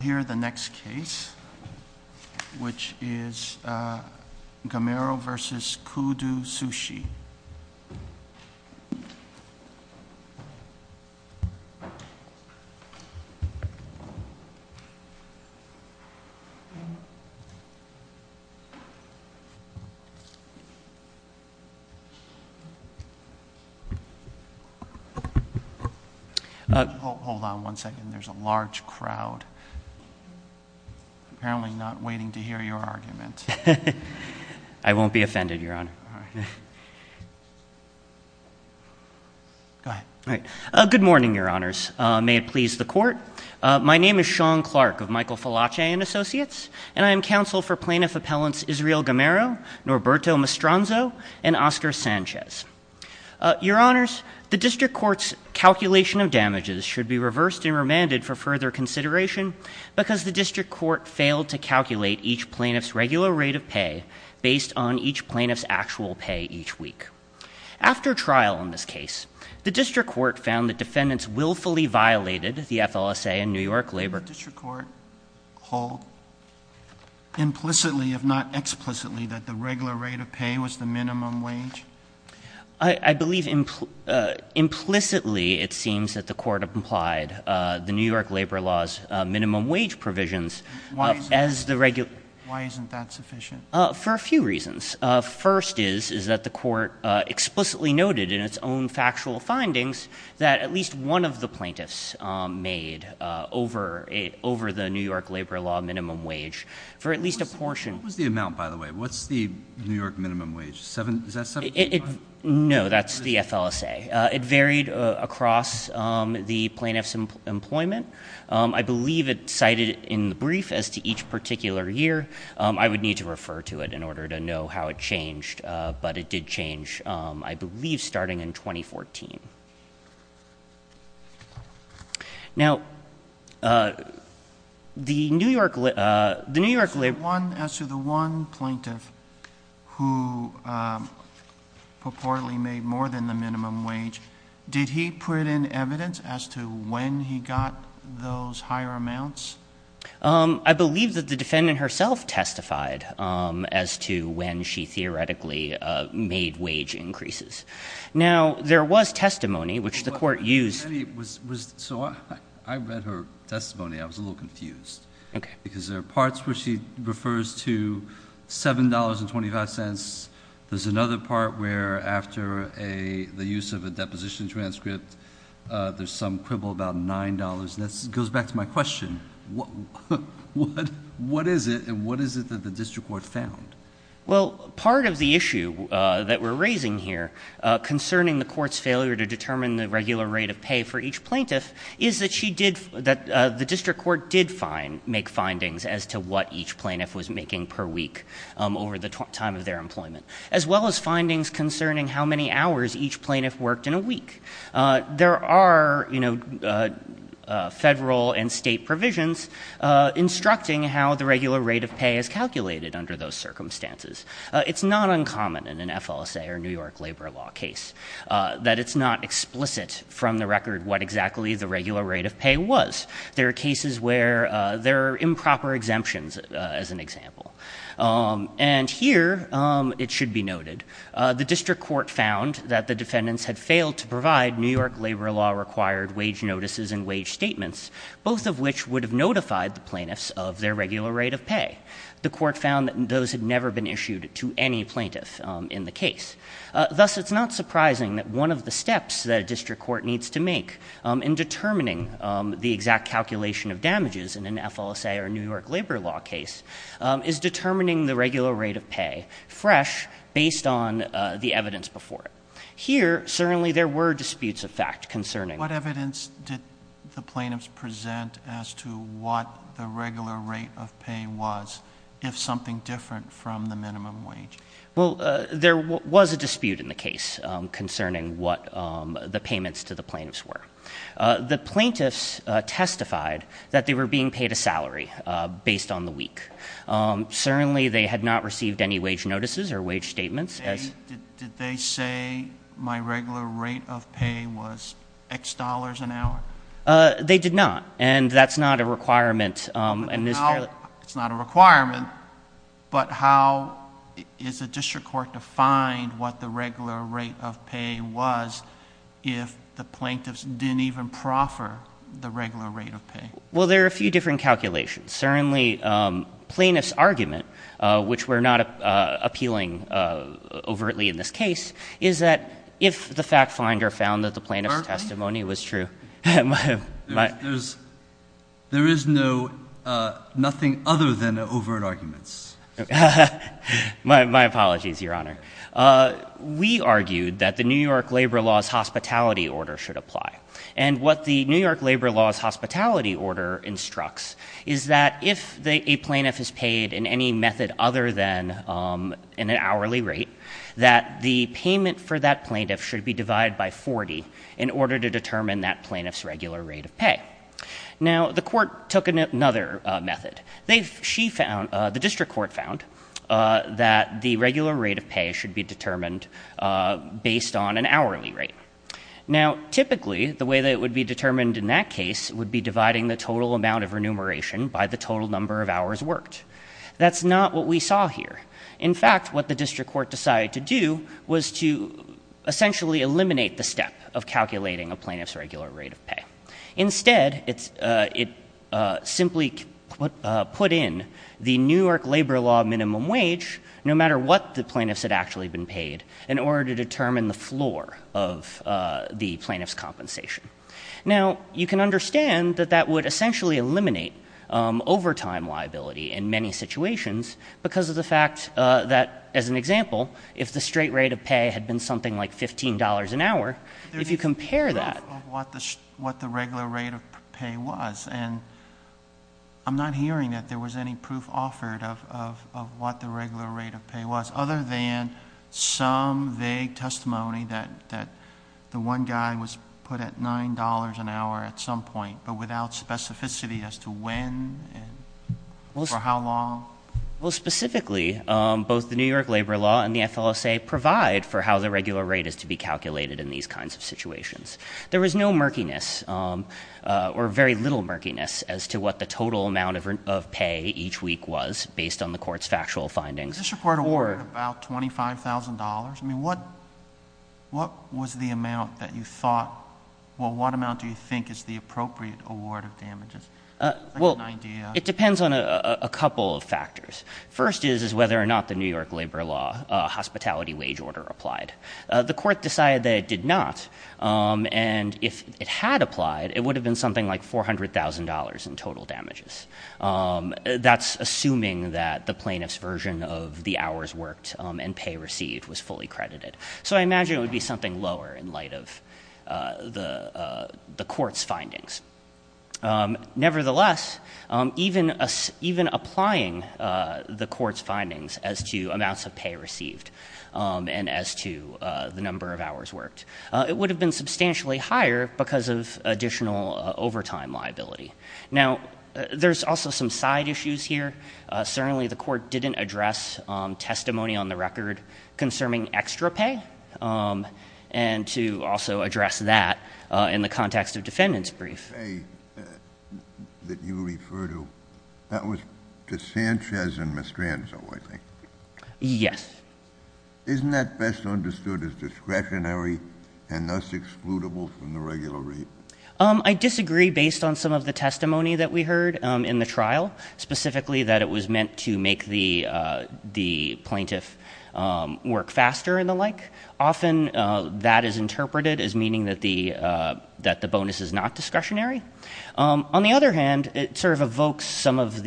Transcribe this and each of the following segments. We'll hear the next case, which is Gamero v. Koodo Sushi. Hold on one second, there's a large crowd, apparently not waiting to hear your argument. I won't be offended, Your Honor. Good morning, Your Honors. May it please the Court. My name is Sean Clark of Michael Falace & Associates, and I am counsel for Plaintiff Appellants Israel Gamero, Norberto Mastronzo, and Oscar Sanchez. Your Honors, the District Court's calculation of damages should be reversed and remanded for further consideration because the District Court failed to calculate each plaintiff's regular rate of pay based on each plaintiff's actual pay each week. After trial in this case, the District Court found that defendants willfully violated the FLSA in New York labor law. Did the District Court hold implicitly, if not explicitly, that the regular rate of pay was the minimum wage? I believe implicitly it seems that the Court applied the New York labor law's minimum wage provisions as the regular rate of pay. Why isn't that sufficient? For a few reasons. First is that the Court explicitly noted in its own factual findings that at least one of the plaintiffs made over the New York labor law minimum wage for at least a portion. What was the amount, by the way? What's the New York minimum wage? Is that 7.5? No, that's the FLSA. It varied across the plaintiff's employment. I believe it cited in the brief as to each particular year. I would need to refer to it in order to know how it changed, but it did change, I believe, starting in 2014. Now, the New York labor law… As to the one plaintiff who purportedly made more than the minimum wage, did he put in evidence as to when he got those higher amounts? I believe that the defendant herself testified as to when she theoretically made wage increases. Now, there was testimony, which the Court used. So I read her testimony. I was a little confused. Okay. Because there are parts where she refers to $7.25. There's another part where after the use of a deposition transcript, there's some quibble about $9.00. That goes back to my question. What is it, and what is it that the district court found? Well, part of the issue that we're raising here concerning the court's failure to determine the regular rate of pay for each plaintiff is that the district court did make findings as to what each plaintiff was making per week over the time of their employment, as well as findings concerning how many hours each plaintiff worked in a week. There are federal and state provisions instructing how the regular rate of pay is calculated under those circumstances. It's not uncommon in an FLSA or New York labor law case that it's not explicit from the record what exactly the regular rate of pay was. There are cases where there are improper exemptions, as an example. The district court found that the defendants had failed to provide New York labor law required wage notices and wage statements, both of which would have notified the plaintiffs of their regular rate of pay. The court found that those had never been issued to any plaintiff in the case. Thus, it's not surprising that one of the steps that a district court needs to make in determining the exact calculation of damages in an FLSA or New York labor law case is determining the regular rate of pay fresh based on the evidence before it. Here, certainly there were disputes of fact concerning What evidence did the plaintiffs present as to what the regular rate of pay was if something different from the minimum wage? Well, there was a dispute in the case concerning what the payments to the plaintiffs were. The plaintiffs testified that they were being paid a salary based on the week. Certainly, they had not received any wage notices or wage statements. Did they say my regular rate of pay was X dollars an hour? They did not, and that's not a requirement. It's not a requirement, but how is a district court to find what the regular rate of pay was if the plaintiffs didn't even proffer the regular rate of pay? Well, there are a few different calculations. Certainly, plaintiff's argument, which we're not appealing overtly in this case, is that if the fact finder found that the plaintiff's testimony was true. There is no nothing other than overt arguments. My apologies, Your Honor. We argued that the New York Labor Law's hospitality order should apply. And what the New York Labor Law's hospitality order instructs is that if a plaintiff is paid in any method other than in an hourly rate, that the payment for that plaintiff should be divided by 40 in order to determine that plaintiff's regular rate of pay. Now, the court took another method. The district court found that the regular rate of pay should be determined based on an hourly rate. Now, typically, the way that it would be determined in that case would be dividing the total amount of remuneration by the total number of hours worked. That's not what we saw here. In fact, what the district court decided to do was to essentially eliminate the step of calculating a plaintiff's regular rate of pay. Instead, it simply put in the New York Labor Law minimum wage, no matter what the plaintiffs had actually been paid, in order to determine the floor of the plaintiff's compensation. Now, you can understand that that would essentially eliminate overtime liability in many situations because of the fact that, as an example, if the straight rate of pay had been something like $15 an hour, if you compare that- There was no proof of what the regular rate of pay was. And I'm not hearing that there was any proof offered of what the regular rate of pay was, other than some vague testimony that the one guy was put at $9 an hour at some point, but without specificity as to when and for how long. Well, specifically, both the New York Labor Law and the FLSA provide for how the regular rate is to be calculated in these kinds of situations. There was no murkiness, or very little murkiness, as to what the total amount of pay each week was, based on the court's factual findings. The district court awarded about $25,000. I mean, what was the amount that you thought, well, what amount do you think is the appropriate award of damages? Well, it depends on a couple of factors. First is whether or not the New York Labor Law hospitality wage order applied. The court decided that it did not, and if it had applied, it would have been something like $400,000 in total damages. That's assuming that the plaintiff's version of the hours worked and pay received was fully credited. So I imagine it would be something lower in light of the court's findings. Nevertheless, even applying the court's findings as to amounts of pay received and as to the number of hours worked, it would have been substantially higher because of additional overtime liability. Now, there's also some side issues here. Certainly, the court didn't address testimony on the record concerning extra pay, and to also address that in the context of defendant's brief. The pay that you refer to, that was to Sanchez and Mestranzo, I think. Yes. Isn't that best understood as discretionary and thus excludable from the regular rate? I disagree based on some of the testimony that we heard in the trial, specifically that it was meant to make the plaintiff work faster and the like. Often that is interpreted as meaning that the bonus is not discretionary. On the other hand, it sort of evokes some of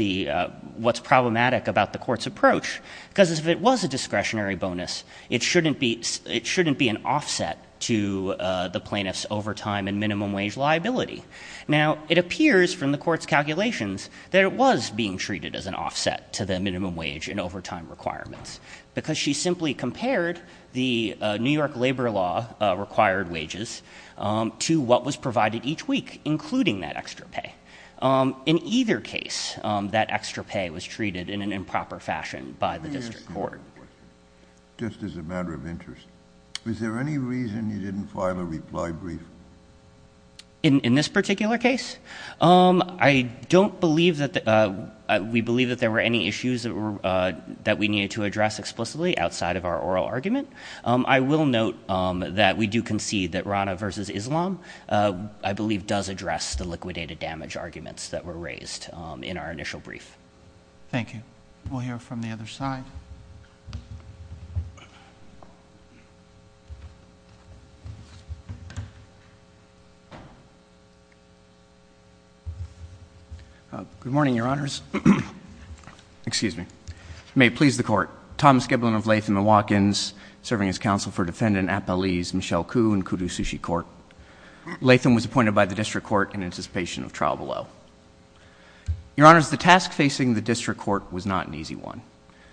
what's problematic about the court's approach because if it was a discretionary bonus, it shouldn't be an offset to the plaintiff's overtime and minimum wage liability. Now, it appears from the court's calculations that it was being treated as an offset to the minimum wage and overtime requirements because she simply compared the New York labor law required wages to what was provided each week, including that extra pay. In either case, that extra pay was treated in an improper fashion by the district court. Just as a matter of interest, is there any reason you didn't file a reply brief? In this particular case? I don't believe that we believe that there were any issues that we needed to address explicitly outside of our oral argument. I will note that we do concede that Rana versus Islam, I believe, does address the liquidated damage arguments that were raised in our initial brief. Thank you. We'll hear from the other side. Good morning, Your Honors. Excuse me. May it please the Court. Thomas Giblin of Latham & Watkins, serving as counsel for defendant Appalese Michelle Koo in Kudu Sushi Court. Latham was appointed by the district court in anticipation of trial below. Your Honors, the task facing the district court was not an easy one.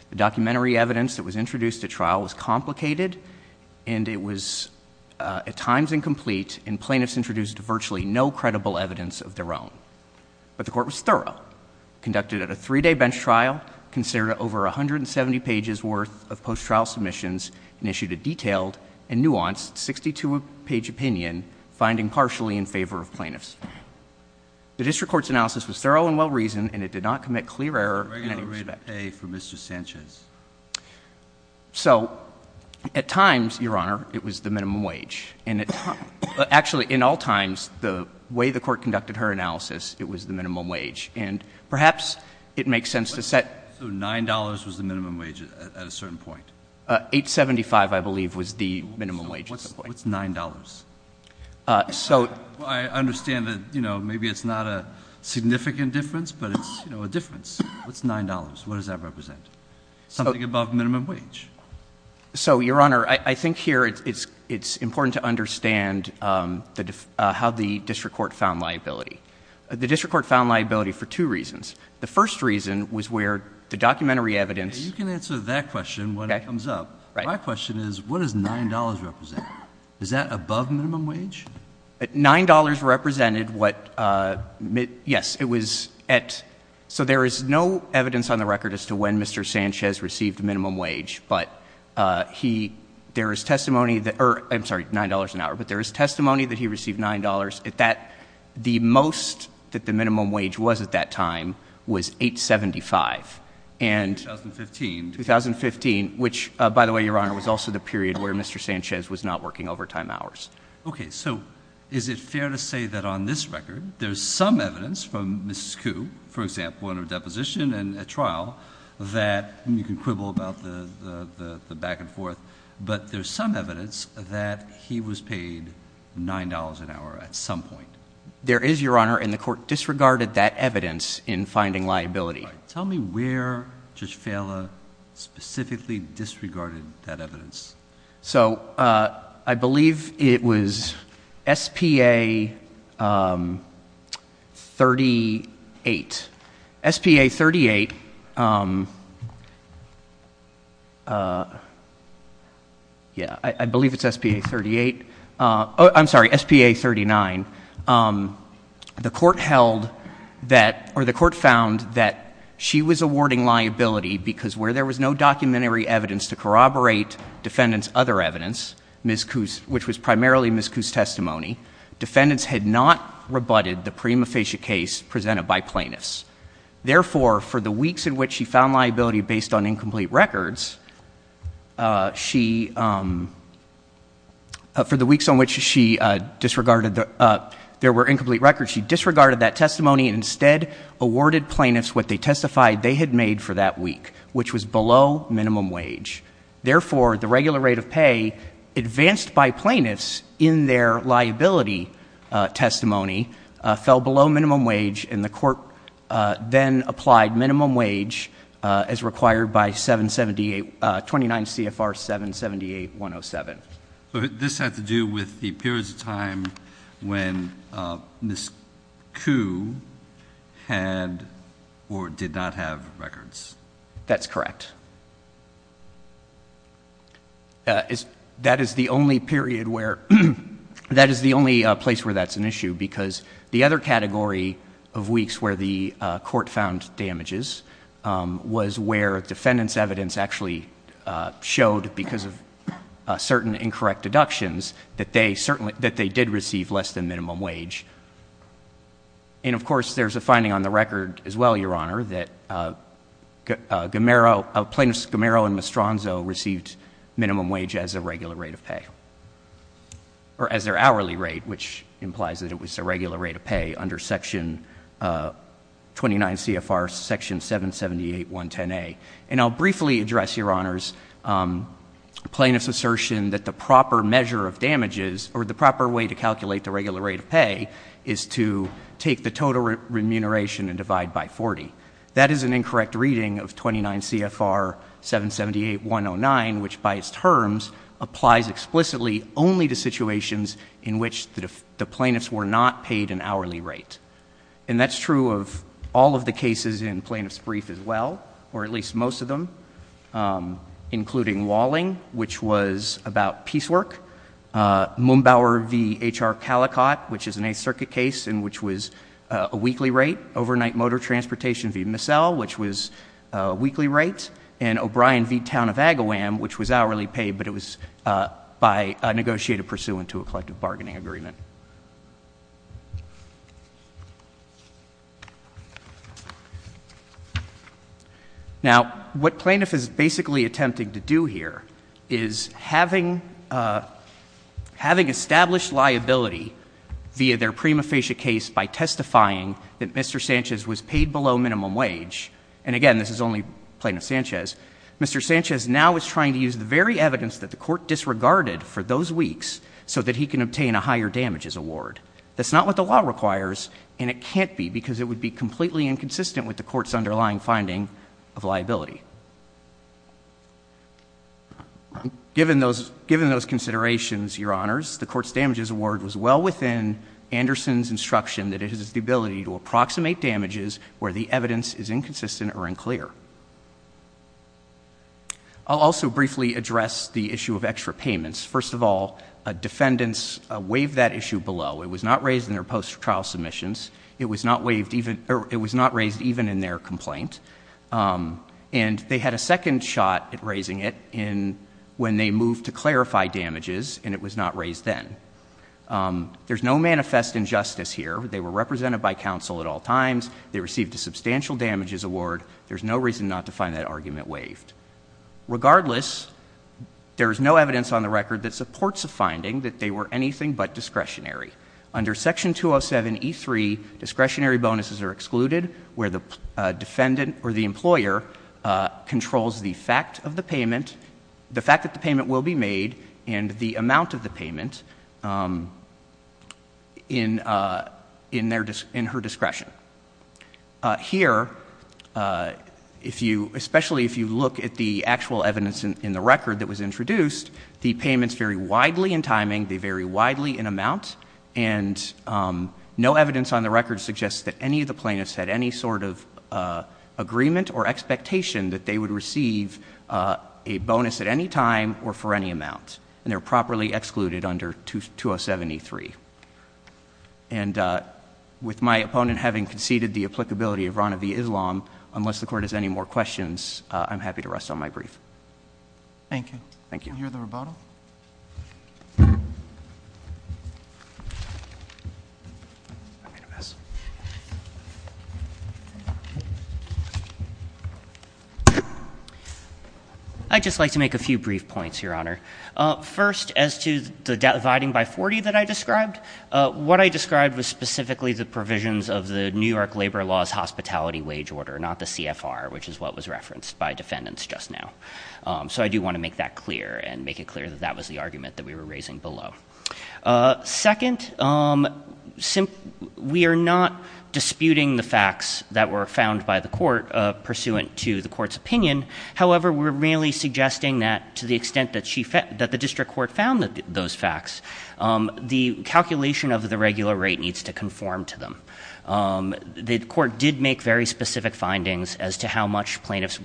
The documentary evidence that was introduced at trial was complicated and it was at times incomplete and plaintiffs introduced virtually no credible evidence of their own. But the court was thorough, conducted at a three-day bench trial, considered over 170 pages worth of post-trial submissions, and issued a detailed and nuanced 62-page opinion, finding partially in favor of plaintiffs. The district court's analysis was thorough and well-reasoned and it did not commit clear error in any respect. A regular rate of A for Mr. Sanchez. So, at times, Your Honor, it was the minimum wage. Actually, in all times, the way the court conducted her analysis, it was the minimum wage. And perhaps it makes sense to set. So $9 was the minimum wage at a certain point? $8.75, I believe, was the minimum wage. What's $9? I understand that maybe it's not a significant difference, but it's a difference. What's $9? What does that represent? Something above minimum wage. So, Your Honor, I think here it's important to understand how the district court found liability. The district court found liability for two reasons. The first reason was where the documentary evidence. You can answer that question when it comes up. My question is, what does $9 represent? Is that above minimum wage? $9 represented what, yes, it was at, So there is no evidence on the record as to when Mr. Sanchez received minimum wage, but there is testimony that he received $9. The most that the minimum wage was at that time was $8.75. 2015. 2015, which, by the way, Your Honor, was also the period where Mr. Sanchez was not working overtime hours. Okay, so is it fair to say that on this record there's some evidence from Mrs. Koo, for example, in her deposition and at trial, that you can quibble about the back and forth, but there's some evidence that he was paid $9 an hour at some point. There is, Your Honor, and the court disregarded that evidence in finding liability. Tell me where Judge Fehler specifically disregarded that evidence. So I believe it was S.P.A. 38. S.P.A. 38, yeah, I believe it's S.P.A. 38. I'm sorry, S.P.A. 39. The court held that, or the court found that she was awarding liability because where there was no documentary evidence to corroborate defendant's other evidence, which was primarily Ms. Koo's testimony, defendants had not rebutted the prima facie case presented by plaintiffs. Therefore, for the weeks in which she found liability based on incomplete records, she, for the weeks on which she disregarded, there were incomplete records, she disregarded that testimony and instead awarded plaintiffs what they testified they had made for that week, which was below minimum wage. Therefore, the regular rate of pay advanced by plaintiffs in their liability testimony fell below minimum wage, and the court then applied minimum wage as required by 778, 29 CFR 778-107. So this had to do with the periods of time when Ms. Koo had or did not have records. That's correct. That is the only period where, that is the only place where that's an issue because the other category of weeks where the court found damages was where defendants' evidence actually showed, because of certain incorrect deductions, that they certainly, that they did receive less than minimum wage. And, of course, there's a finding on the record as well, Your Honor, that Plaintiffs Gamero and Mastronzo received minimum wage as their regular rate of pay, or as their hourly rate, which implies that it was their regular rate of pay under section 29 CFR section 778-110A. And I'll briefly address, Your Honors, plaintiffs' assertion that the proper measure of damages or the proper way to calculate the regular rate of pay is to take the total remuneration and divide by 40. That is an incorrect reading of 29 CFR 778-109, which, by its terms, applies explicitly only to situations in which the plaintiffs were not paid an hourly rate. And that's true of all of the cases in Plaintiff's Brief as well, or at least most of them, including Walling, which was about piecework, Mumbauer v. H.R. Calicott, which is an Eighth Circuit case in which was a weekly rate, Overnight Motor Transportation v. Missell, which was a weekly rate, and O'Brien v. Town of Agawam, which was hourly pay, but it was by negotiated pursuant to a collective bargaining agreement. Now, what plaintiff is basically attempting to do here is having established liability via their prima facie case by testifying that Mr. Sanchez was paid below minimum wage, and, again, this is only Plaintiff Sanchez, Mr. Sanchez now is trying to use the very evidence that the Court disregarded for those weeks so that he can obtain a higher damage rate. That's not what the law requires, and it can't be because it would be completely inconsistent with the Court's underlying finding of liability. Given those considerations, Your Honors, the Court's damages award was well within Anderson's instruction that it is the ability to approximate damages where the evidence is inconsistent or unclear. I'll also briefly address the issue of extra payments. First of all, defendants waived that issue below. It was not raised in their post-trial submissions. It was not raised even in their complaint. And they had a second shot at raising it when they moved to clarify damages, and it was not raised then. There's no manifest injustice here. They were represented by counsel at all times. They received a substantial damages award. There's no reason not to find that argument waived. Regardless, there is no evidence on the record that supports a finding that they were anything but discretionary. Under Section 207e3, discretionary bonuses are excluded where the defendant or the employer controls the fact of the payment, the fact that the payment will be made, and the amount of the payment in her discretion. Here, especially if you look at the actual evidence in the record that was introduced, the payments vary widely in timing, they vary widely in amount, and no evidence on the record suggests that any of the plaintiffs had any sort of agreement or expectation that they would receive a bonus at any time or for any amount. And they're properly excluded under 207e3. And with my opponent having conceded the applicability of Rana v. Islam, unless the Court has any more questions, I'm happy to rest on my brief. Thank you. I'd just like to make a few brief points, Your Honor. First, as to the dividing by 40 that I described, what I described was specifically the provisions of the New York labor laws hospitality wage order, not the CFR, which is what was referenced by defendants just now. So I do want to make that clear and make it clear that that was the argument that we were raising below. Second, we are not disputing the facts that were found by the Court pursuant to the Court's opinion. However, we're really suggesting that to the extent that the District Court found those facts, the calculation of the regular rate needs to conform to them. The Court did make very specific findings as to how much plaintiffs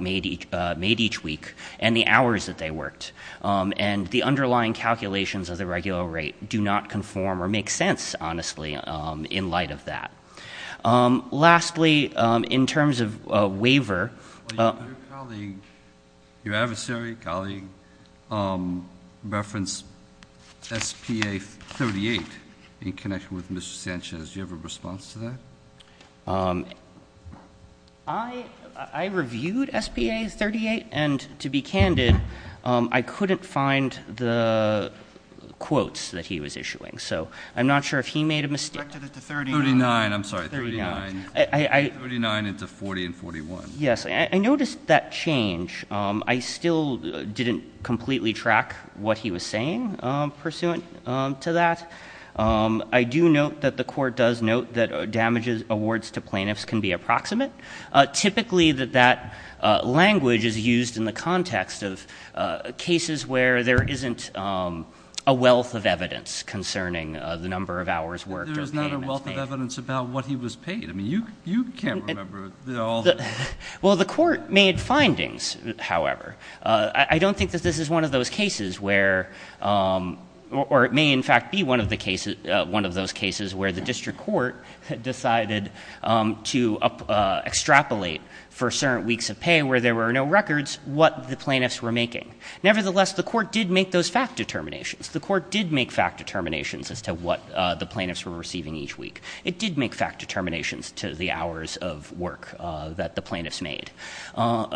made each week and the hours that they worked. And the underlying calculations of the regular rate do not conform or make sense, honestly, in light of that. Lastly, in terms of waiver... Your adversary, colleague, referenced SPA 38 in connection with Mr. Sanchez. Do you have a response to that? I reviewed SPA 38, and to be candid, I couldn't find the quotes that he was issuing. So I'm not sure if he made a mistake. 39, I'm sorry. 39 into 40 and 41. Yes, I noticed that change. I still didn't completely track what he was saying pursuant to that. I do note that the Court does note that damages, awards to plaintiffs can be approximate. Typically that language is used in the context of cases where there isn't a wealth of evidence concerning the number of hours worked or paid. Well, the Court made findings, however. I don't think that this is one of those cases where, or it may in fact be one of those cases where the District Court decided to extrapolate for certain weeks of pay where there were no records what the plaintiffs were making. Nevertheless, the Court did make those fact determinations. The Court did make fact determinations as to what the plaintiffs were receiving each week. It did make fact determinations to the hours of work that the plaintiffs worked.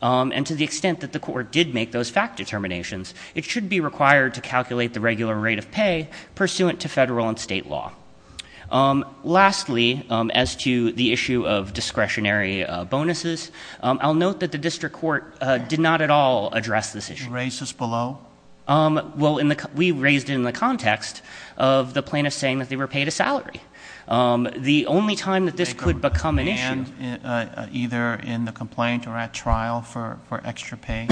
And to the extent that the Court did make those fact determinations, it should be required to calculate the regular rate of pay pursuant to federal and state law. Lastly, as to the issue of discretionary bonuses, I'll note that the District Court did not at all address this issue. Did you raise this below? Well, we raised it in the context of the plaintiffs saying that they were paid a salary. The only time that this could become an issue... Either in the complaint or at trial for extra pay?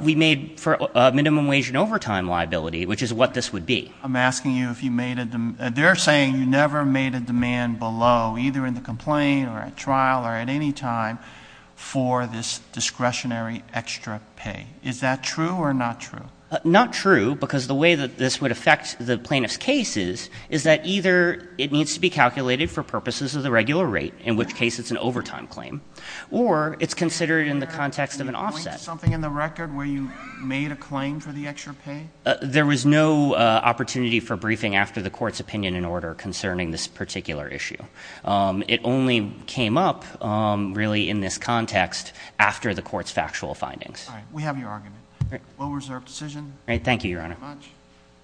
We made for minimum wage and overtime liability, which is what this would be. They're saying you never made a demand below, either in the complaint or at trial or at any time for this discretionary extra pay. Is that true or not true? Not true, because the way that this would affect the plaintiffs' cases is that either it needs to be calculated for purposes of the regular rate, in which case it's an overtime claim, or it's considered in the context of an offset. Can you point to something in the record where you made a claim for the extra pay? There was no opportunity for briefing after the court's factual findings.